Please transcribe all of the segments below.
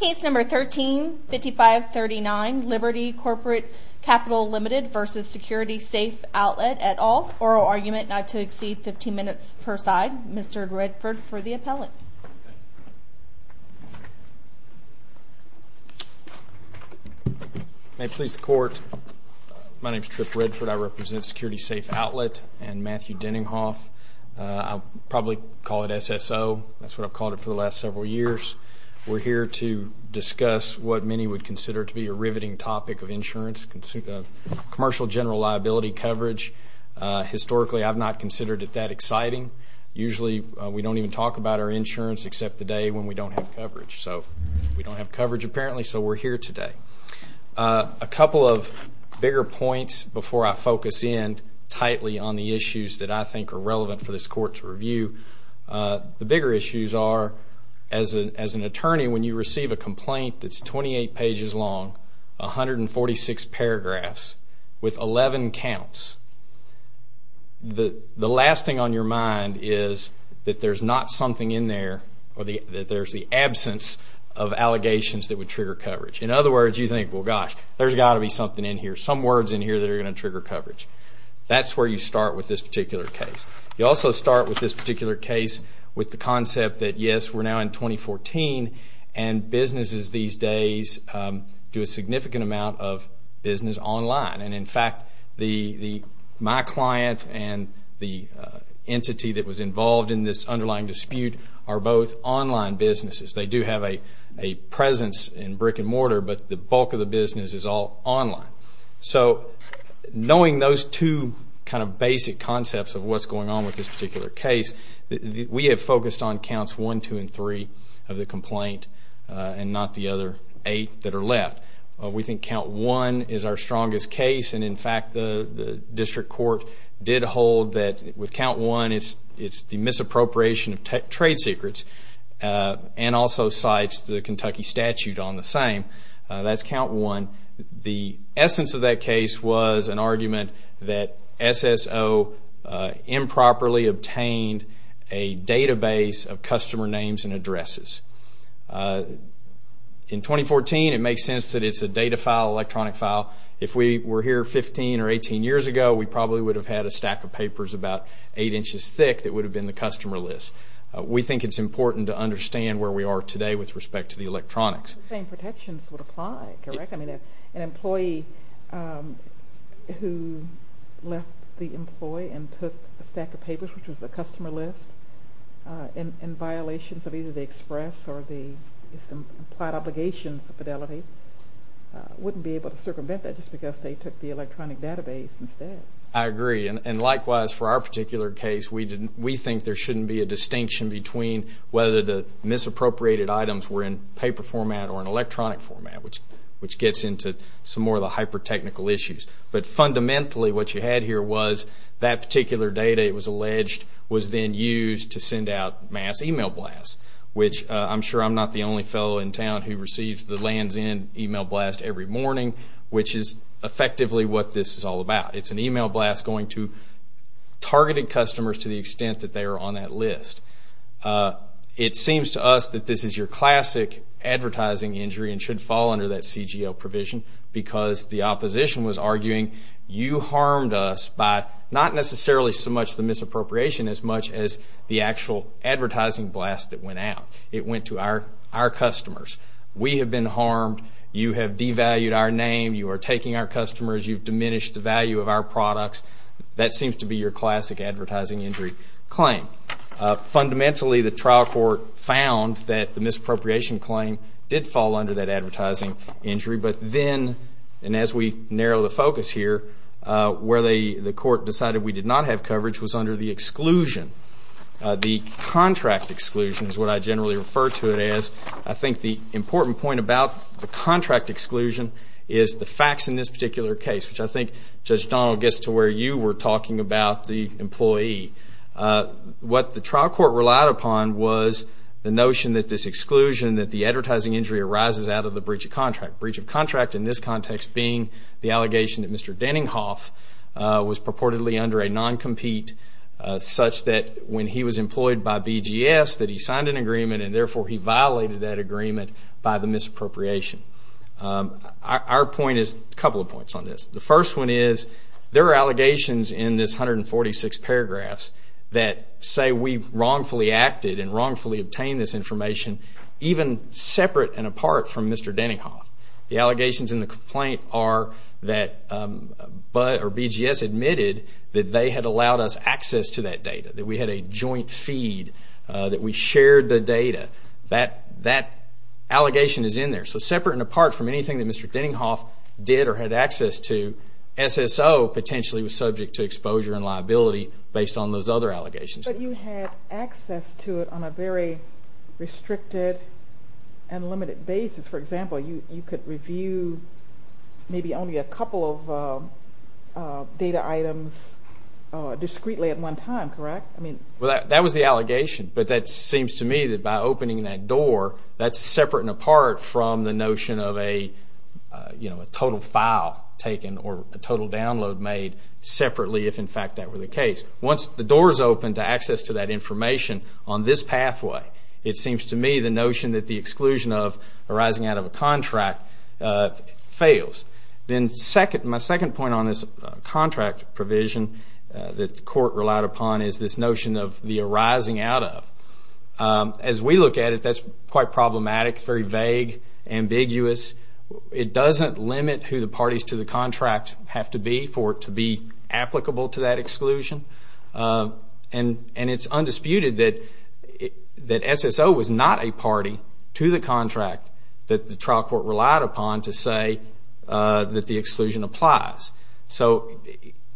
Case number 13 5539 Liberty Corporate Capital Limited versus Security Safe Outlet et al. Oral argument not to exceed 15 minutes per side. Mr. Redford for the appellate. May it please the court. My name is Trip Redford. I represent Security Safe Outlet and Matthew Denninghoff. I'll probably call it SSO. That's what I've called it for the last several years. We're here to discuss what many would consider to be a riveting topic of insurance, commercial general liability coverage. Historically, I've not considered it that exciting. Usually we don't even talk about our insurance except the day when we don't have coverage. So we don't have coverage apparently, so we're here today. A couple of bigger points before I focus in tightly on the issues that I think are relevant for this court to review. The bigger issues are, as an attorney, when you receive a complaint that's 28 pages long, 146 paragraphs, with 11 counts, the last thing on your mind is that there's not something in there or that there's the absence of allegations that would trigger coverage. In other words, you think, well, gosh, there's got to be something in here, some words in here that are going to trigger coverage. That's where you start with this particular case. You also start with this particular case with the concept that, yes, we're now in 2014, and businesses these days do a significant amount of business online. And, in fact, my client and the entity that was involved in this underlying dispute are both online businesses. They do have a presence in brick and mortar, but the bulk of the business is all online. So knowing those two kind of basic concepts of what's going on with this particular case, we have focused on counts one, two, and three of the complaint and not the other eight that are left. We think count one is our strongest case. And, in fact, the district court did hold that with count one, it's the misappropriation of trade secrets, and also cites the Kentucky statute on the same. That's count one. The essence of that case was an argument that SSO improperly obtained a database of customer names and addresses. In 2014, it makes sense that it's a data file, electronic file. If we were here 15 or 18 years ago, we probably would have had a stack of papers about eight inches thick that would have been the customer list. We think it's important to understand where we are today with respect to the electronics. The same protections would apply, correct? I mean, an employee who left the employee and took a stack of papers, which was a customer list in violation of either the express or the implied obligation for fidelity wouldn't be able to circumvent that just because they took the electronic database instead. I agree. And, likewise, for our particular case, we think there shouldn't be a distinction between whether the misappropriated items were in paper format or in electronic format, which gets into some more of the hyper-technical issues. But, fundamentally, what you had here was that particular data, it was alleged, was then used to send out mass email blasts, which I'm sure I'm not the only fellow in town who receives the lands end email blast every morning, which is effectively what this is all about. It's an email blast going to targeted customers to the extent that they are on that list. It seems to us that this is your classic advertising injury and should fall under that CGL provision because the opposition was arguing, you harmed us by not necessarily so much the misappropriation as much as the actual advertising blast that went out. It went to our customers. We have been harmed. You have devalued our name. You are taking our customers. You've diminished the value of our products. That seems to be your classic advertising injury claim. Fundamentally, the trial court found that the misappropriation claim did fall under that advertising injury. But then, and as we narrow the focus here, where the court decided we did not have coverage was under the exclusion. The contract exclusion is what I generally refer to it as. I think the important point about the contract exclusion is the facts in this particular case, which I think, Judge Donald, gets to where you were talking about the employee. What the trial court relied upon was the notion that this exclusion, that the advertising injury arises out of the breach of contract. Breach of contract in this context being the allegation that Mr. Denninghoff was purportedly under a non-compete such that when he was employed by BGS that he signed an agreement and therefore he violated that agreement by the misappropriation. Our point is a couple of points on this. The first one is there are allegations in this 146 paragraphs that say we wrongfully acted and wrongfully obtained this information even separate and apart from Mr. Denninghoff. The allegations in the complaint are that BGS admitted that they had allowed us access to that data, that we had a joint feed, that we shared the data. That allegation is in there. So separate and apart from anything that Mr. Denninghoff did or had access to, SSO potentially was subject to exposure and liability based on those other allegations. But you had access to it on a very restricted and limited basis. For example, you could review maybe only a couple of data items discreetly at one time, correct? That was the allegation, but that seems to me that by opening that door, that's separate and apart from the notion of a total file taken or a total download made separately if in fact that were the case. Once the door is open to access to that information on this pathway, it seems to me the notion that the exclusion of arising out of a contract fails. Then my second point on this contract provision that the court relied upon is this notion of the arising out of. As we look at it, that's quite problematic. It's very vague, ambiguous. It doesn't limit who the parties to the contract have to be for it to be applicable to that exclusion. It's undisputed that SSO was not a party to the contract that the trial court relied upon to say that the exclusion applies.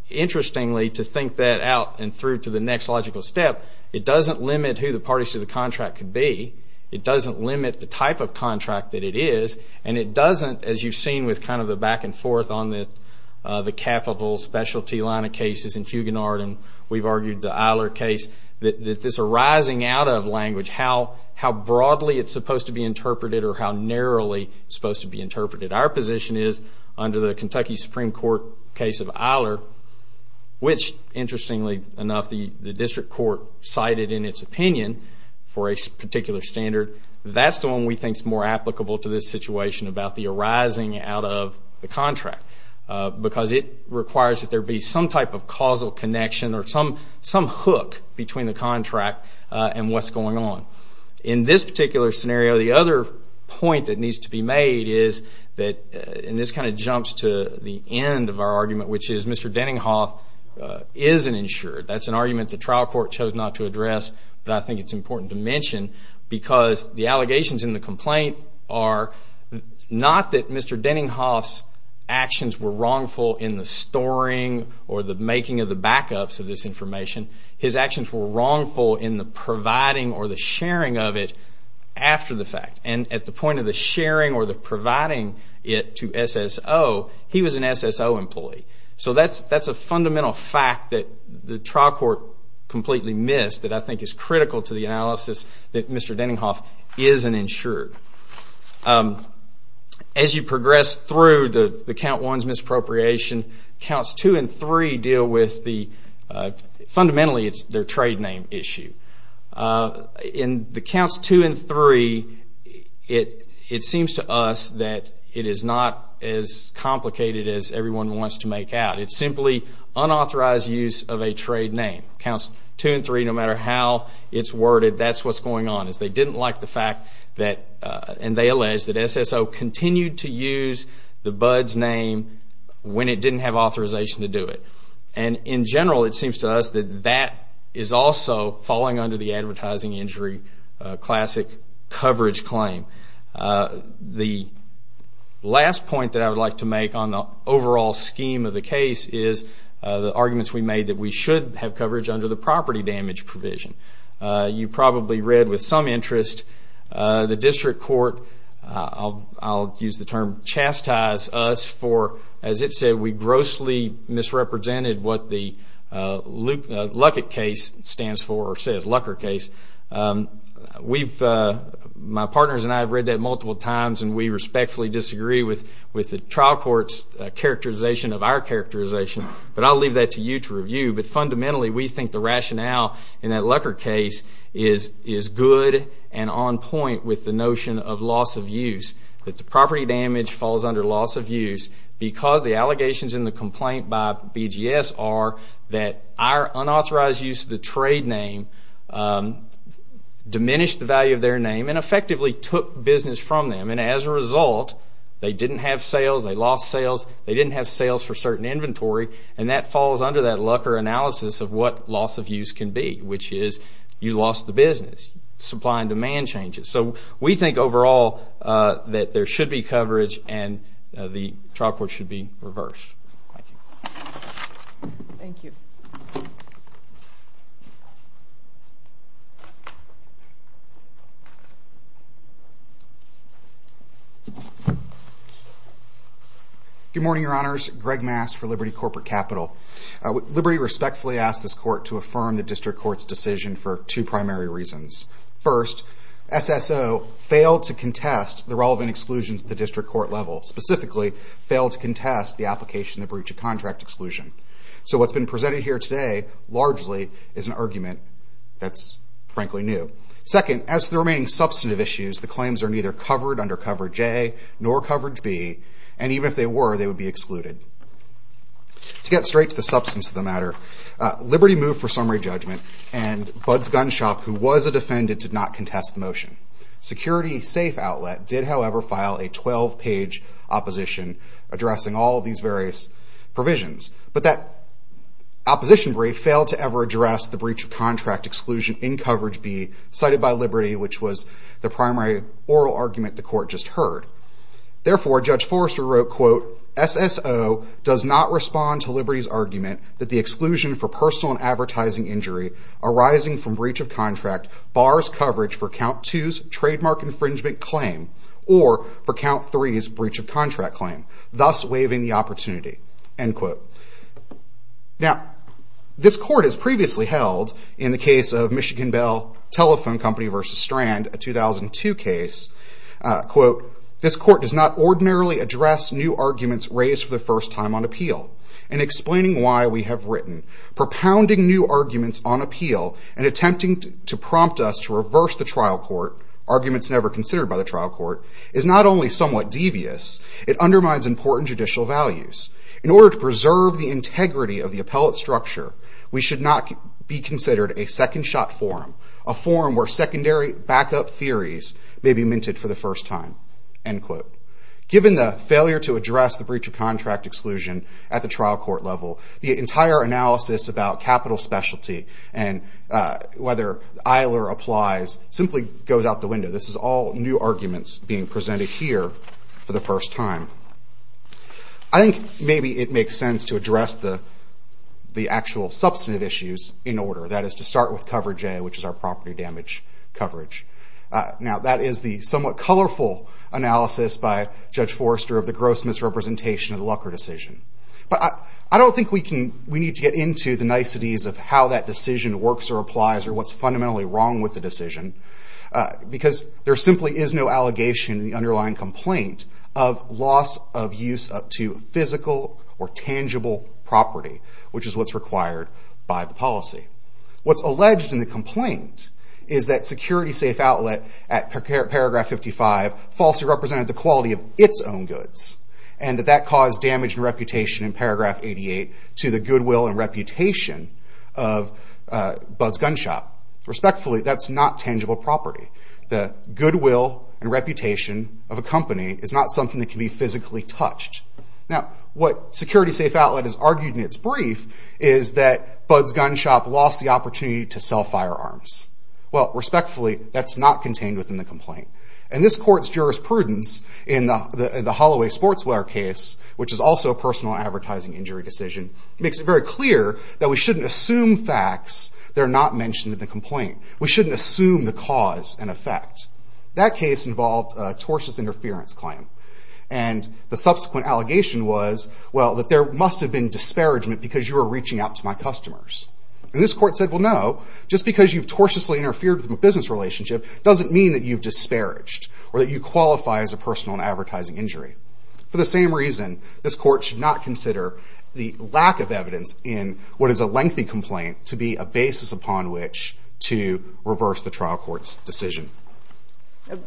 Interestingly, to think that out and through to the next logical step, it doesn't limit who the parties to the contract could be. It doesn't limit the type of contract that it is. It doesn't, as you've seen with kind of the back and forth on the capital specialty line of cases in Huguenot and we've argued the Eiler case, that this arising out of language, how broadly it's supposed to be interpreted or how narrowly it's supposed to be interpreted. Our position is under the Kentucky Supreme Court case of Eiler, which interestingly enough the district court cited in its opinion for a particular standard, that's the one we think is more applicable to this situation about the arising out of the contract because it requires that there be some type of causal connection or some hook between the contract and what's going on. In this particular scenario, the other point that needs to be made is that, and this kind of jumps to the end of our argument, which is Mr. Denninghoff isn't insured. That's an argument the trial court chose not to address, but I think it's important to mention because the allegations in the complaint are not that Mr. Denninghoff's actions were wrongful in the storing or the making of the backups of this information. His actions were wrongful in the providing or the sharing of it after the fact. And at the point of the sharing or the providing it to SSO, he was an SSO employee. So that's a fundamental fact that the trial court completely missed that I think is critical to the analysis that Mr. Denninghoff isn't insured. As you progress through the Count 1's misappropriation, Counts 2 and 3 deal with the fundamentally it's their trade name issue. In the Counts 2 and 3, it seems to us that it is not as complicated as everyone wants to make out. It's simply unauthorized use of a trade name. Counts 2 and 3, no matter how it's worded, that's what's going on is they didn't like the fact that, and they allege that SSO continued to use the Bud's name when it didn't have authorization to do it. And in general, it seems to us that that is also falling under the advertising injury classic coverage claim. The last point that I would like to make on the overall scheme of the case is the arguments we made that we should have coverage under the property damage provision. You probably read with some interest the district court, I'll use the term chastise us for, as it said, we grossly misrepresented what the Luckett case stands for or says, Luckett case. My partners and I have read that multiple times, and we respectfully disagree with the trial court's characterization of our characterization. But I'll leave that to you to review. But fundamentally, we think the rationale in that Luckett case is good and on point with the notion of loss of use. That the property damage falls under loss of use because the allegations in the complaint by BGS are that our unauthorized use of the trade name diminished the value of their name and effectively took business from them. And as a result, they didn't have sales. They lost sales. They didn't have sales for certain inventory. And that falls under that Lucker analysis of what loss of use can be, which is you lost the business, supply and demand changes. So we think overall that there should be coverage and the trial court should be reversed. Thank you. Thank you. Good morning, Your Honors. Greg Mass for Liberty Corporate Capital. Liberty respectfully asks this court to affirm the district court's decision for two primary reasons. First, SSO failed to contest the relevant exclusions at the district court level, specifically failed to contest the application to breach a contract exclusion. So what's been presented here today largely is an argument that's frankly new. Second, as to the remaining substantive issues, the claims are neither covered under coverage A nor coverage B. And even if they were, they would be excluded. To get straight to the substance of the matter, Liberty moved for summary judgment and Bud's Gun Shop, who was a defendant, did not contest the motion. Security Safe Outlet did, however, file a 12-page opposition addressing all these various provisions. But that opposition brief failed to ever address the breach of contract exclusion in coverage B, cited by Liberty, which was the primary oral argument the court just heard. Therefore, Judge Forrester wrote, quote, SSO does not respond to Liberty's argument that the exclusion for personal and advertising injury arising from breach of contract bars coverage for Count 2's trademark infringement claim or for Count 3's breach of contract claim, thus waiving the opportunity, end quote. Now, this court has previously held, in the case of Michigan Bell Telephone Company v. Strand, a 2002 case, quote, this court does not ordinarily address new arguments raised for the first time on appeal. In explaining why we have written, propounding new arguments on appeal and attempting to prompt us to reverse the trial court, arguments never considered by the trial court, is not only somewhat devious, it undermines important judicial values. In order to preserve the integrity of the appellate structure, we should not be considered a second-shot forum, a forum where secondary backup theories may be minted for the first time, end quote. Given the failure to address the breach of contract exclusion at the trial court level, the entire analysis about capital specialty and whether EILER applies simply goes out the window. This is all new arguments being presented here for the first time. I think maybe it makes sense to address the actual substantive issues in order. That is to start with coverage A, which is our property damage coverage. Now that is the somewhat colorful analysis by Judge Forrester of the gross misrepresentation of the Lucker decision. But I don't think we need to get into the niceties of how that decision works or applies or what's fundamentally wrong with the decision, because there simply is no allegation in the underlying complaint of loss of use up to physical or tangible property, which is what's required by the policy. What's alleged in the complaint is that Security Safe Outlet at paragraph 55 falsely represented the quality of its own goods, and that that caused damage and reputation in paragraph 88 to the goodwill and reputation of Bud's Gun Shop. Respectfully, that's not tangible property. The goodwill and reputation of a company is not something that can be physically touched. What Security Safe Outlet has argued in its brief is that Bud's Gun Shop lost the opportunity to sell firearms. Respectfully, that's not contained within the complaint. This court's jurisprudence in the Holloway Sportswear case, which is also a personal advertising injury decision, makes it very clear that we shouldn't assume facts that are not mentioned in the complaint. We shouldn't assume the cause and effect. That case involved a tortious interference claim, and the subsequent allegation was, well, that there must have been disparagement because you were reaching out to my customers. And this court said, well, no, just because you've tortiously interfered with my business relationship doesn't mean that you've disparaged or that you qualify as a personal advertising injury. For the same reason, this court should not consider the lack of evidence in what is a lengthy complaint to be a basis upon which to reverse the trial court's decision.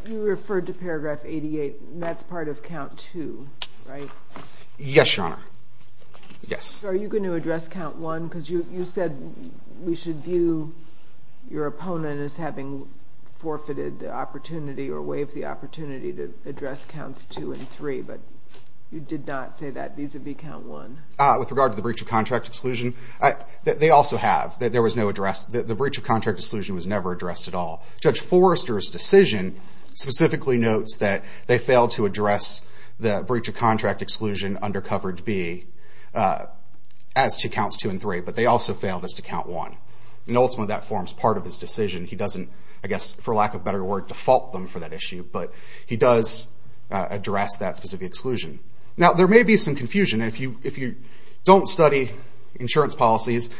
You referred to Paragraph 88, and that's part of Count 2, right? Yes, Your Honor. Yes. So are you going to address Count 1? Because you said we should view your opponent as having forfeited the opportunity or waived the opportunity to address Counts 2 and 3, but you did not say that vis-a-vis Count 1. With regard to the breach of contract exclusion, they also have. There was no address. The breach of contract exclusion was never addressed at all. Judge Forrester's decision specifically notes that they failed to address the breach of contract exclusion under Coverage B as to Counts 2 and 3, but they also failed us to Count 1. And ultimately, that forms part of his decision. He doesn't, I guess, for lack of a better word, default them for that issue, but he does address that specific exclusion. Now, there may be some confusion. If you don't study insurance policies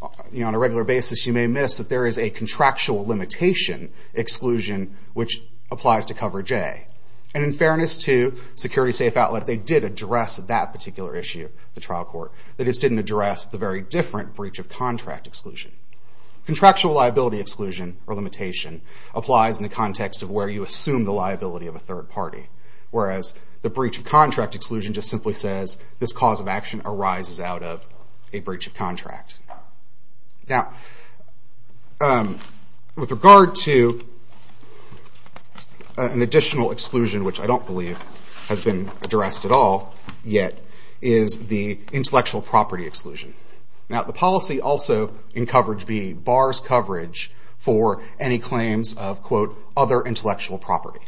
on a regular basis, you may miss that there is a contractual limitation exclusion, which applies to Coverage A. And in fairness to Security Safe Outlet, they did address that particular issue at the trial court. They just didn't address the very different breach of contract exclusion. Contractual liability exclusion or limitation applies in the context of where you assume the liability of a third party, whereas the breach of contract exclusion just simply says this cause of action arises out of a breach of contract. Now, with regard to an additional exclusion, which I don't believe has been addressed at all yet, is the intellectual property exclusion. Now, the policy also in Coverage B bars coverage for any claims of, quote, other intellectual property.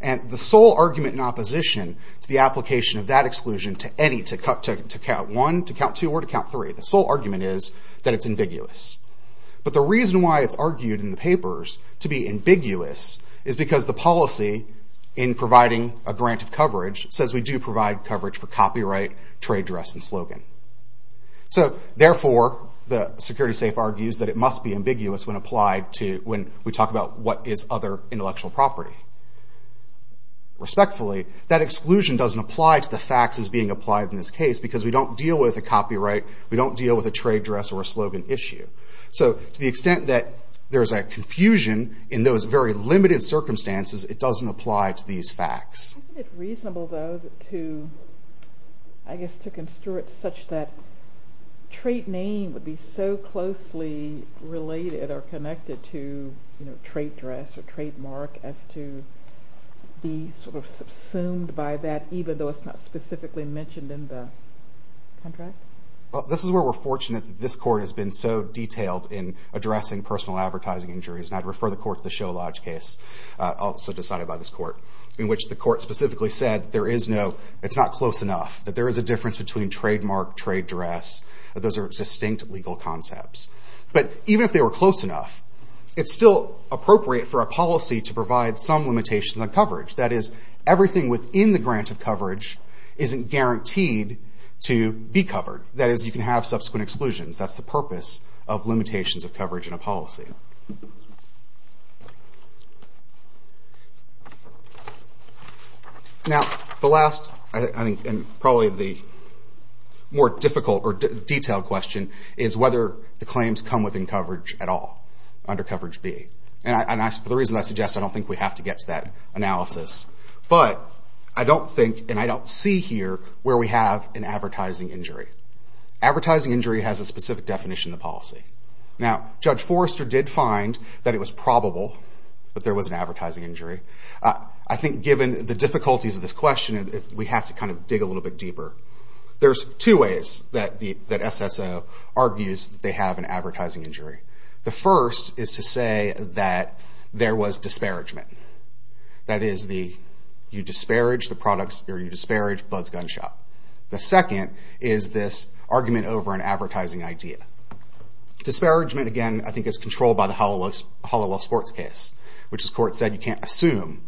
And the sole argument in opposition to the application of that exclusion to any, to count one, to count two, or to count three, the sole argument is that it's ambiguous. But the reason why it's argued in the papers to be ambiguous is because the policy in providing a grant of coverage says we do provide coverage for copyright, trade dress, and slogan. So, therefore, the Security Safe argues that it must be ambiguous when applied to, when we talk about what is other intellectual property. Respectfully, that exclusion doesn't apply to the facts as being applied in this case because we don't deal with a copyright, we don't deal with a trade dress or a slogan issue. So, to the extent that there's a confusion in those very limited circumstances, it doesn't apply to these facts. Isn't it reasonable, though, to, I guess, to construe it such that trade name would be so closely related or connected to, you know, trade dress or trademark as to be sort of subsumed by that, even though it's not specifically mentioned in the contract? Well, this is where we're fortunate that this Court has been so detailed in addressing personal advertising injuries. And I'd refer the Court to the Show Lodge case, also decided by this Court, in which the Court specifically said there is no, it's not close enough, that there is a difference between trademark, trade dress, that those are distinct legal concepts. But even if they were close enough, it's still appropriate for a policy to provide some limitations on coverage. That is, everything within the grant of coverage isn't guaranteed to be covered. That is, you can have subsequent exclusions. That's the purpose of limitations of coverage in a policy. Now, the last, I think, and probably the more difficult or detailed question, is whether the claims come within coverage at all, under coverage B. And for the reasons I suggest, I don't think we have to get to that analysis. But I don't think, and I don't see here, where we have an advertising injury. Advertising injury has a specific definition of the policy. Now, Judge Forrester did find that it was probable that there was an advertising injury. I think, given the difficulties of this question, we have to kind of dig a little bit deeper. There's two ways that SSO argues that they have an advertising injury. The first is to say that there was disparagement. That is, you disparage Bud's Gun Shop. The second is this argument over an advertising idea. Disparagement, again, I think is controlled by the Hollowell sports case, which this court said you can't assume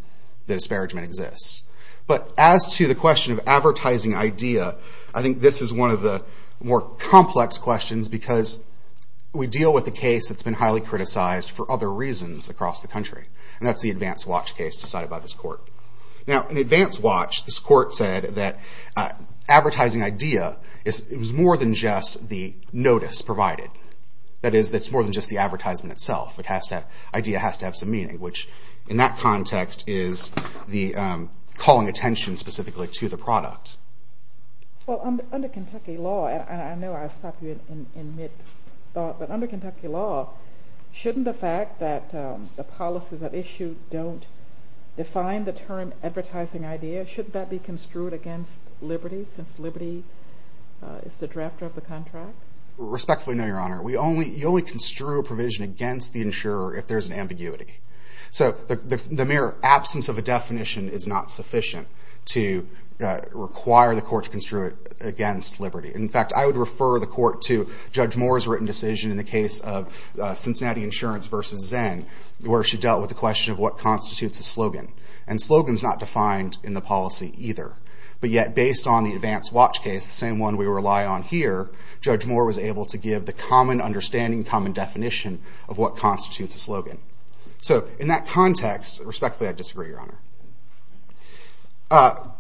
that disparagement exists. But as to the question of advertising idea, I think this is one of the more complex questions because we deal with a case that's been highly criticized for other reasons across the country. And that's the Advance Watch case decided by this court. Now, in Advance Watch, this court said that advertising idea was more than just the notice provided. That is, it's more than just the advertisement itself. The idea has to have some meaning, which in that context is the calling attention specifically to the product. Well, under Kentucky law, and I know I stopped you in mid-thought, but under Kentucky law, shouldn't the fact that the policies at issue don't define the term advertising idea, shouldn't that be construed against liberty since liberty is the drafter of the contract? Respectfully, no, Your Honor. You only construe a provision against the insurer if there's an ambiguity. So the mere absence of a definition is not sufficient to require the court to construe it against liberty. In fact, I would refer the court to Judge Moore's written decision in the case of Cincinnati Insurance v. Zen where she dealt with the question of what constitutes a slogan. And slogan's not defined in the policy either. But yet, based on the Advance Watch case, the same one we rely on here, Judge Moore was able to give the common understanding, common definition of what constitutes a slogan. So in that context, respectfully, I disagree, Your Honor.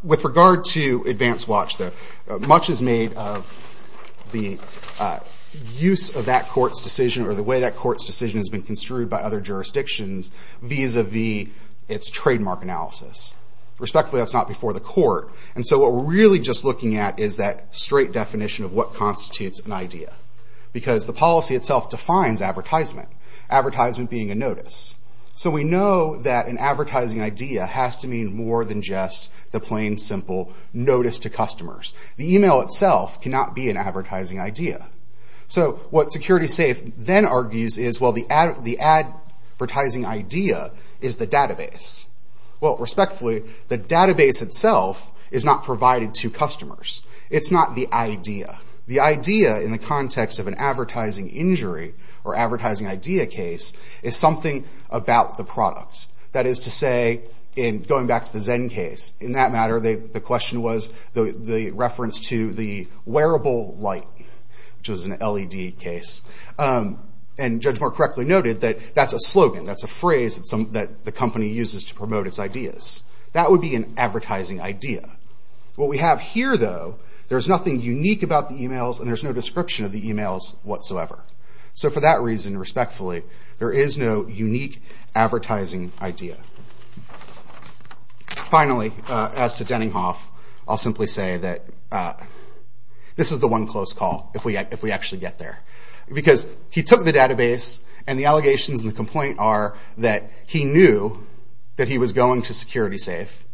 With regard to Advance Watch, though, much is made of the use of that court's decision or the way that court's decision has been construed by other jurisdictions vis-a-vis its trademark analysis. Respectfully, that's not before the court. And so what we're really just looking at is that straight definition of what constitutes an idea. Because the policy itself defines advertisement, advertisement being a notice. So we know that an advertising idea has to mean more than just the plain, simple notice to customers. The email itself cannot be an advertising idea. So what SecuritySafe then argues is, well, the advertising idea is the database. Well, respectfully, the database itself is not provided to customers. It's not the idea. The idea in the context of an advertising injury or advertising idea case is something about the product. That is to say, in going back to the Zen case, in that matter, the question was the reference to the wearable light, which was an LED case. And Judge Moore correctly noted that that's a slogan, that's a phrase that the company uses to promote its ideas. That would be an advertising idea. What we have here, though, there's nothing unique about the emails, and there's no description of the emails whatsoever. So for that reason, respectfully, there is no unique advertising idea. Finally, as to Denninghoff, I'll simply say that this is the one close call, if we actually get there. Because he took the database, and the allegations and the complaint are that he knew that he was going to SecuritySafe.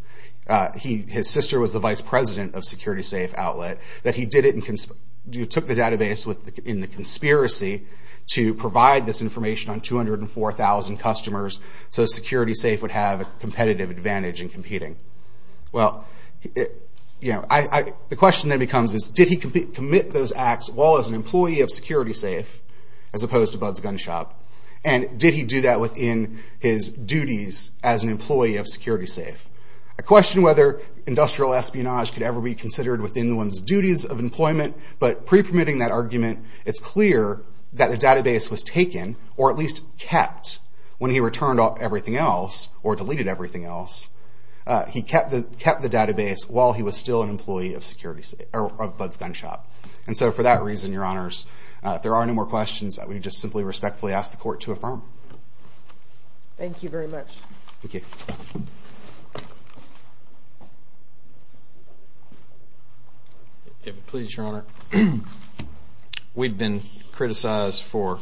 His sister was the vice president of SecuritySafe outlet. That he took the database in the conspiracy to provide this information on 204,000 customers so that SecuritySafe would have a competitive advantage in competing. The question then becomes, did he commit those acts while as an employee of SecuritySafe, as opposed to Bud's Gun Shop, and did he do that within his duties as an employee of SecuritySafe? I question whether industrial espionage could ever be considered within one's duties of employment, but pre-permitting that argument, it's clear that the database was taken, or at least kept, when he returned everything else, or deleted everything else. He kept the database while he was still an employee of Bud's Gun Shop. And so for that reason, Your Honors, if there are no more questions, I would just simply respectfully ask the court to affirm. Thank you very much. Thank you. If it pleases Your Honor, we've been criticized for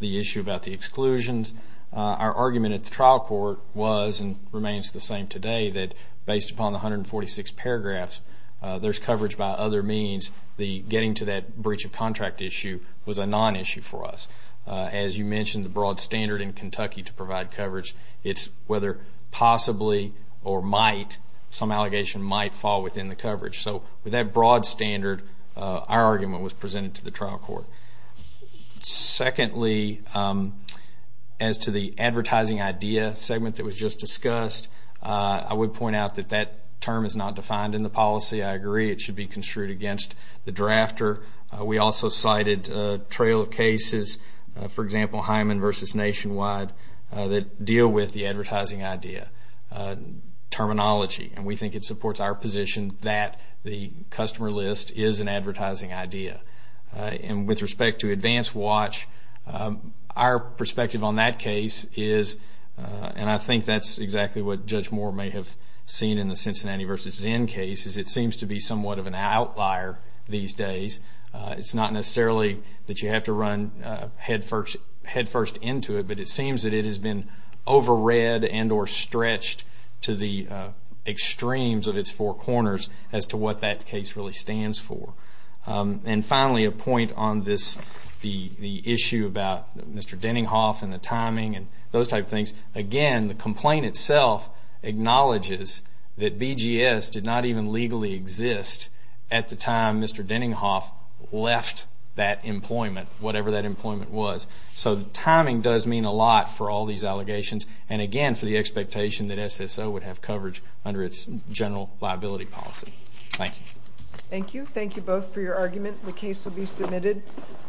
the issue about the exclusions. Our argument at the trial court was, and remains the same today, that based upon the 146 paragraphs, there's coverage by other means. Getting to that breach of contract issue was a non-issue for us. As you mentioned, the broad standard in Kentucky to provide coverage, it's whether possibly or might some allegation might fall within the coverage. So with that broad standard, our argument was presented to the trial court. Secondly, as to the advertising idea segment that was just discussed, I would point out that that term is not defined in the policy. I agree it should be construed against the drafter. We also cited a trail of cases, for example, Hyman v. Nationwide, that deal with the advertising idea terminology. And we think it supports our position that the customer list is an advertising idea. With respect to Advance Watch, our perspective on that case is, and I think that's exactly what Judge Moore may have seen in the Cincinnati v. Zinn case, is it seems to be somewhat of an outlier these days. It's not necessarily that you have to run headfirst into it, but it seems that it has been overread and or stretched to the extremes of its four corners as to what that case really stands for. And finally, a point on the issue about Mr. Denninghoff and the timing and those type of things. Again, the complaint itself acknowledges that BGS did not even legally exist at the time Mr. Denninghoff left that employment, whatever that employment was. So timing does mean a lot for all these allegations and, again, for the expectation that SSO would have coverage under its general liability policy. Thank you. Thank you. Thank you both for your argument. The case will be submitted.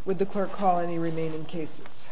Would the clerk call any remaining cases?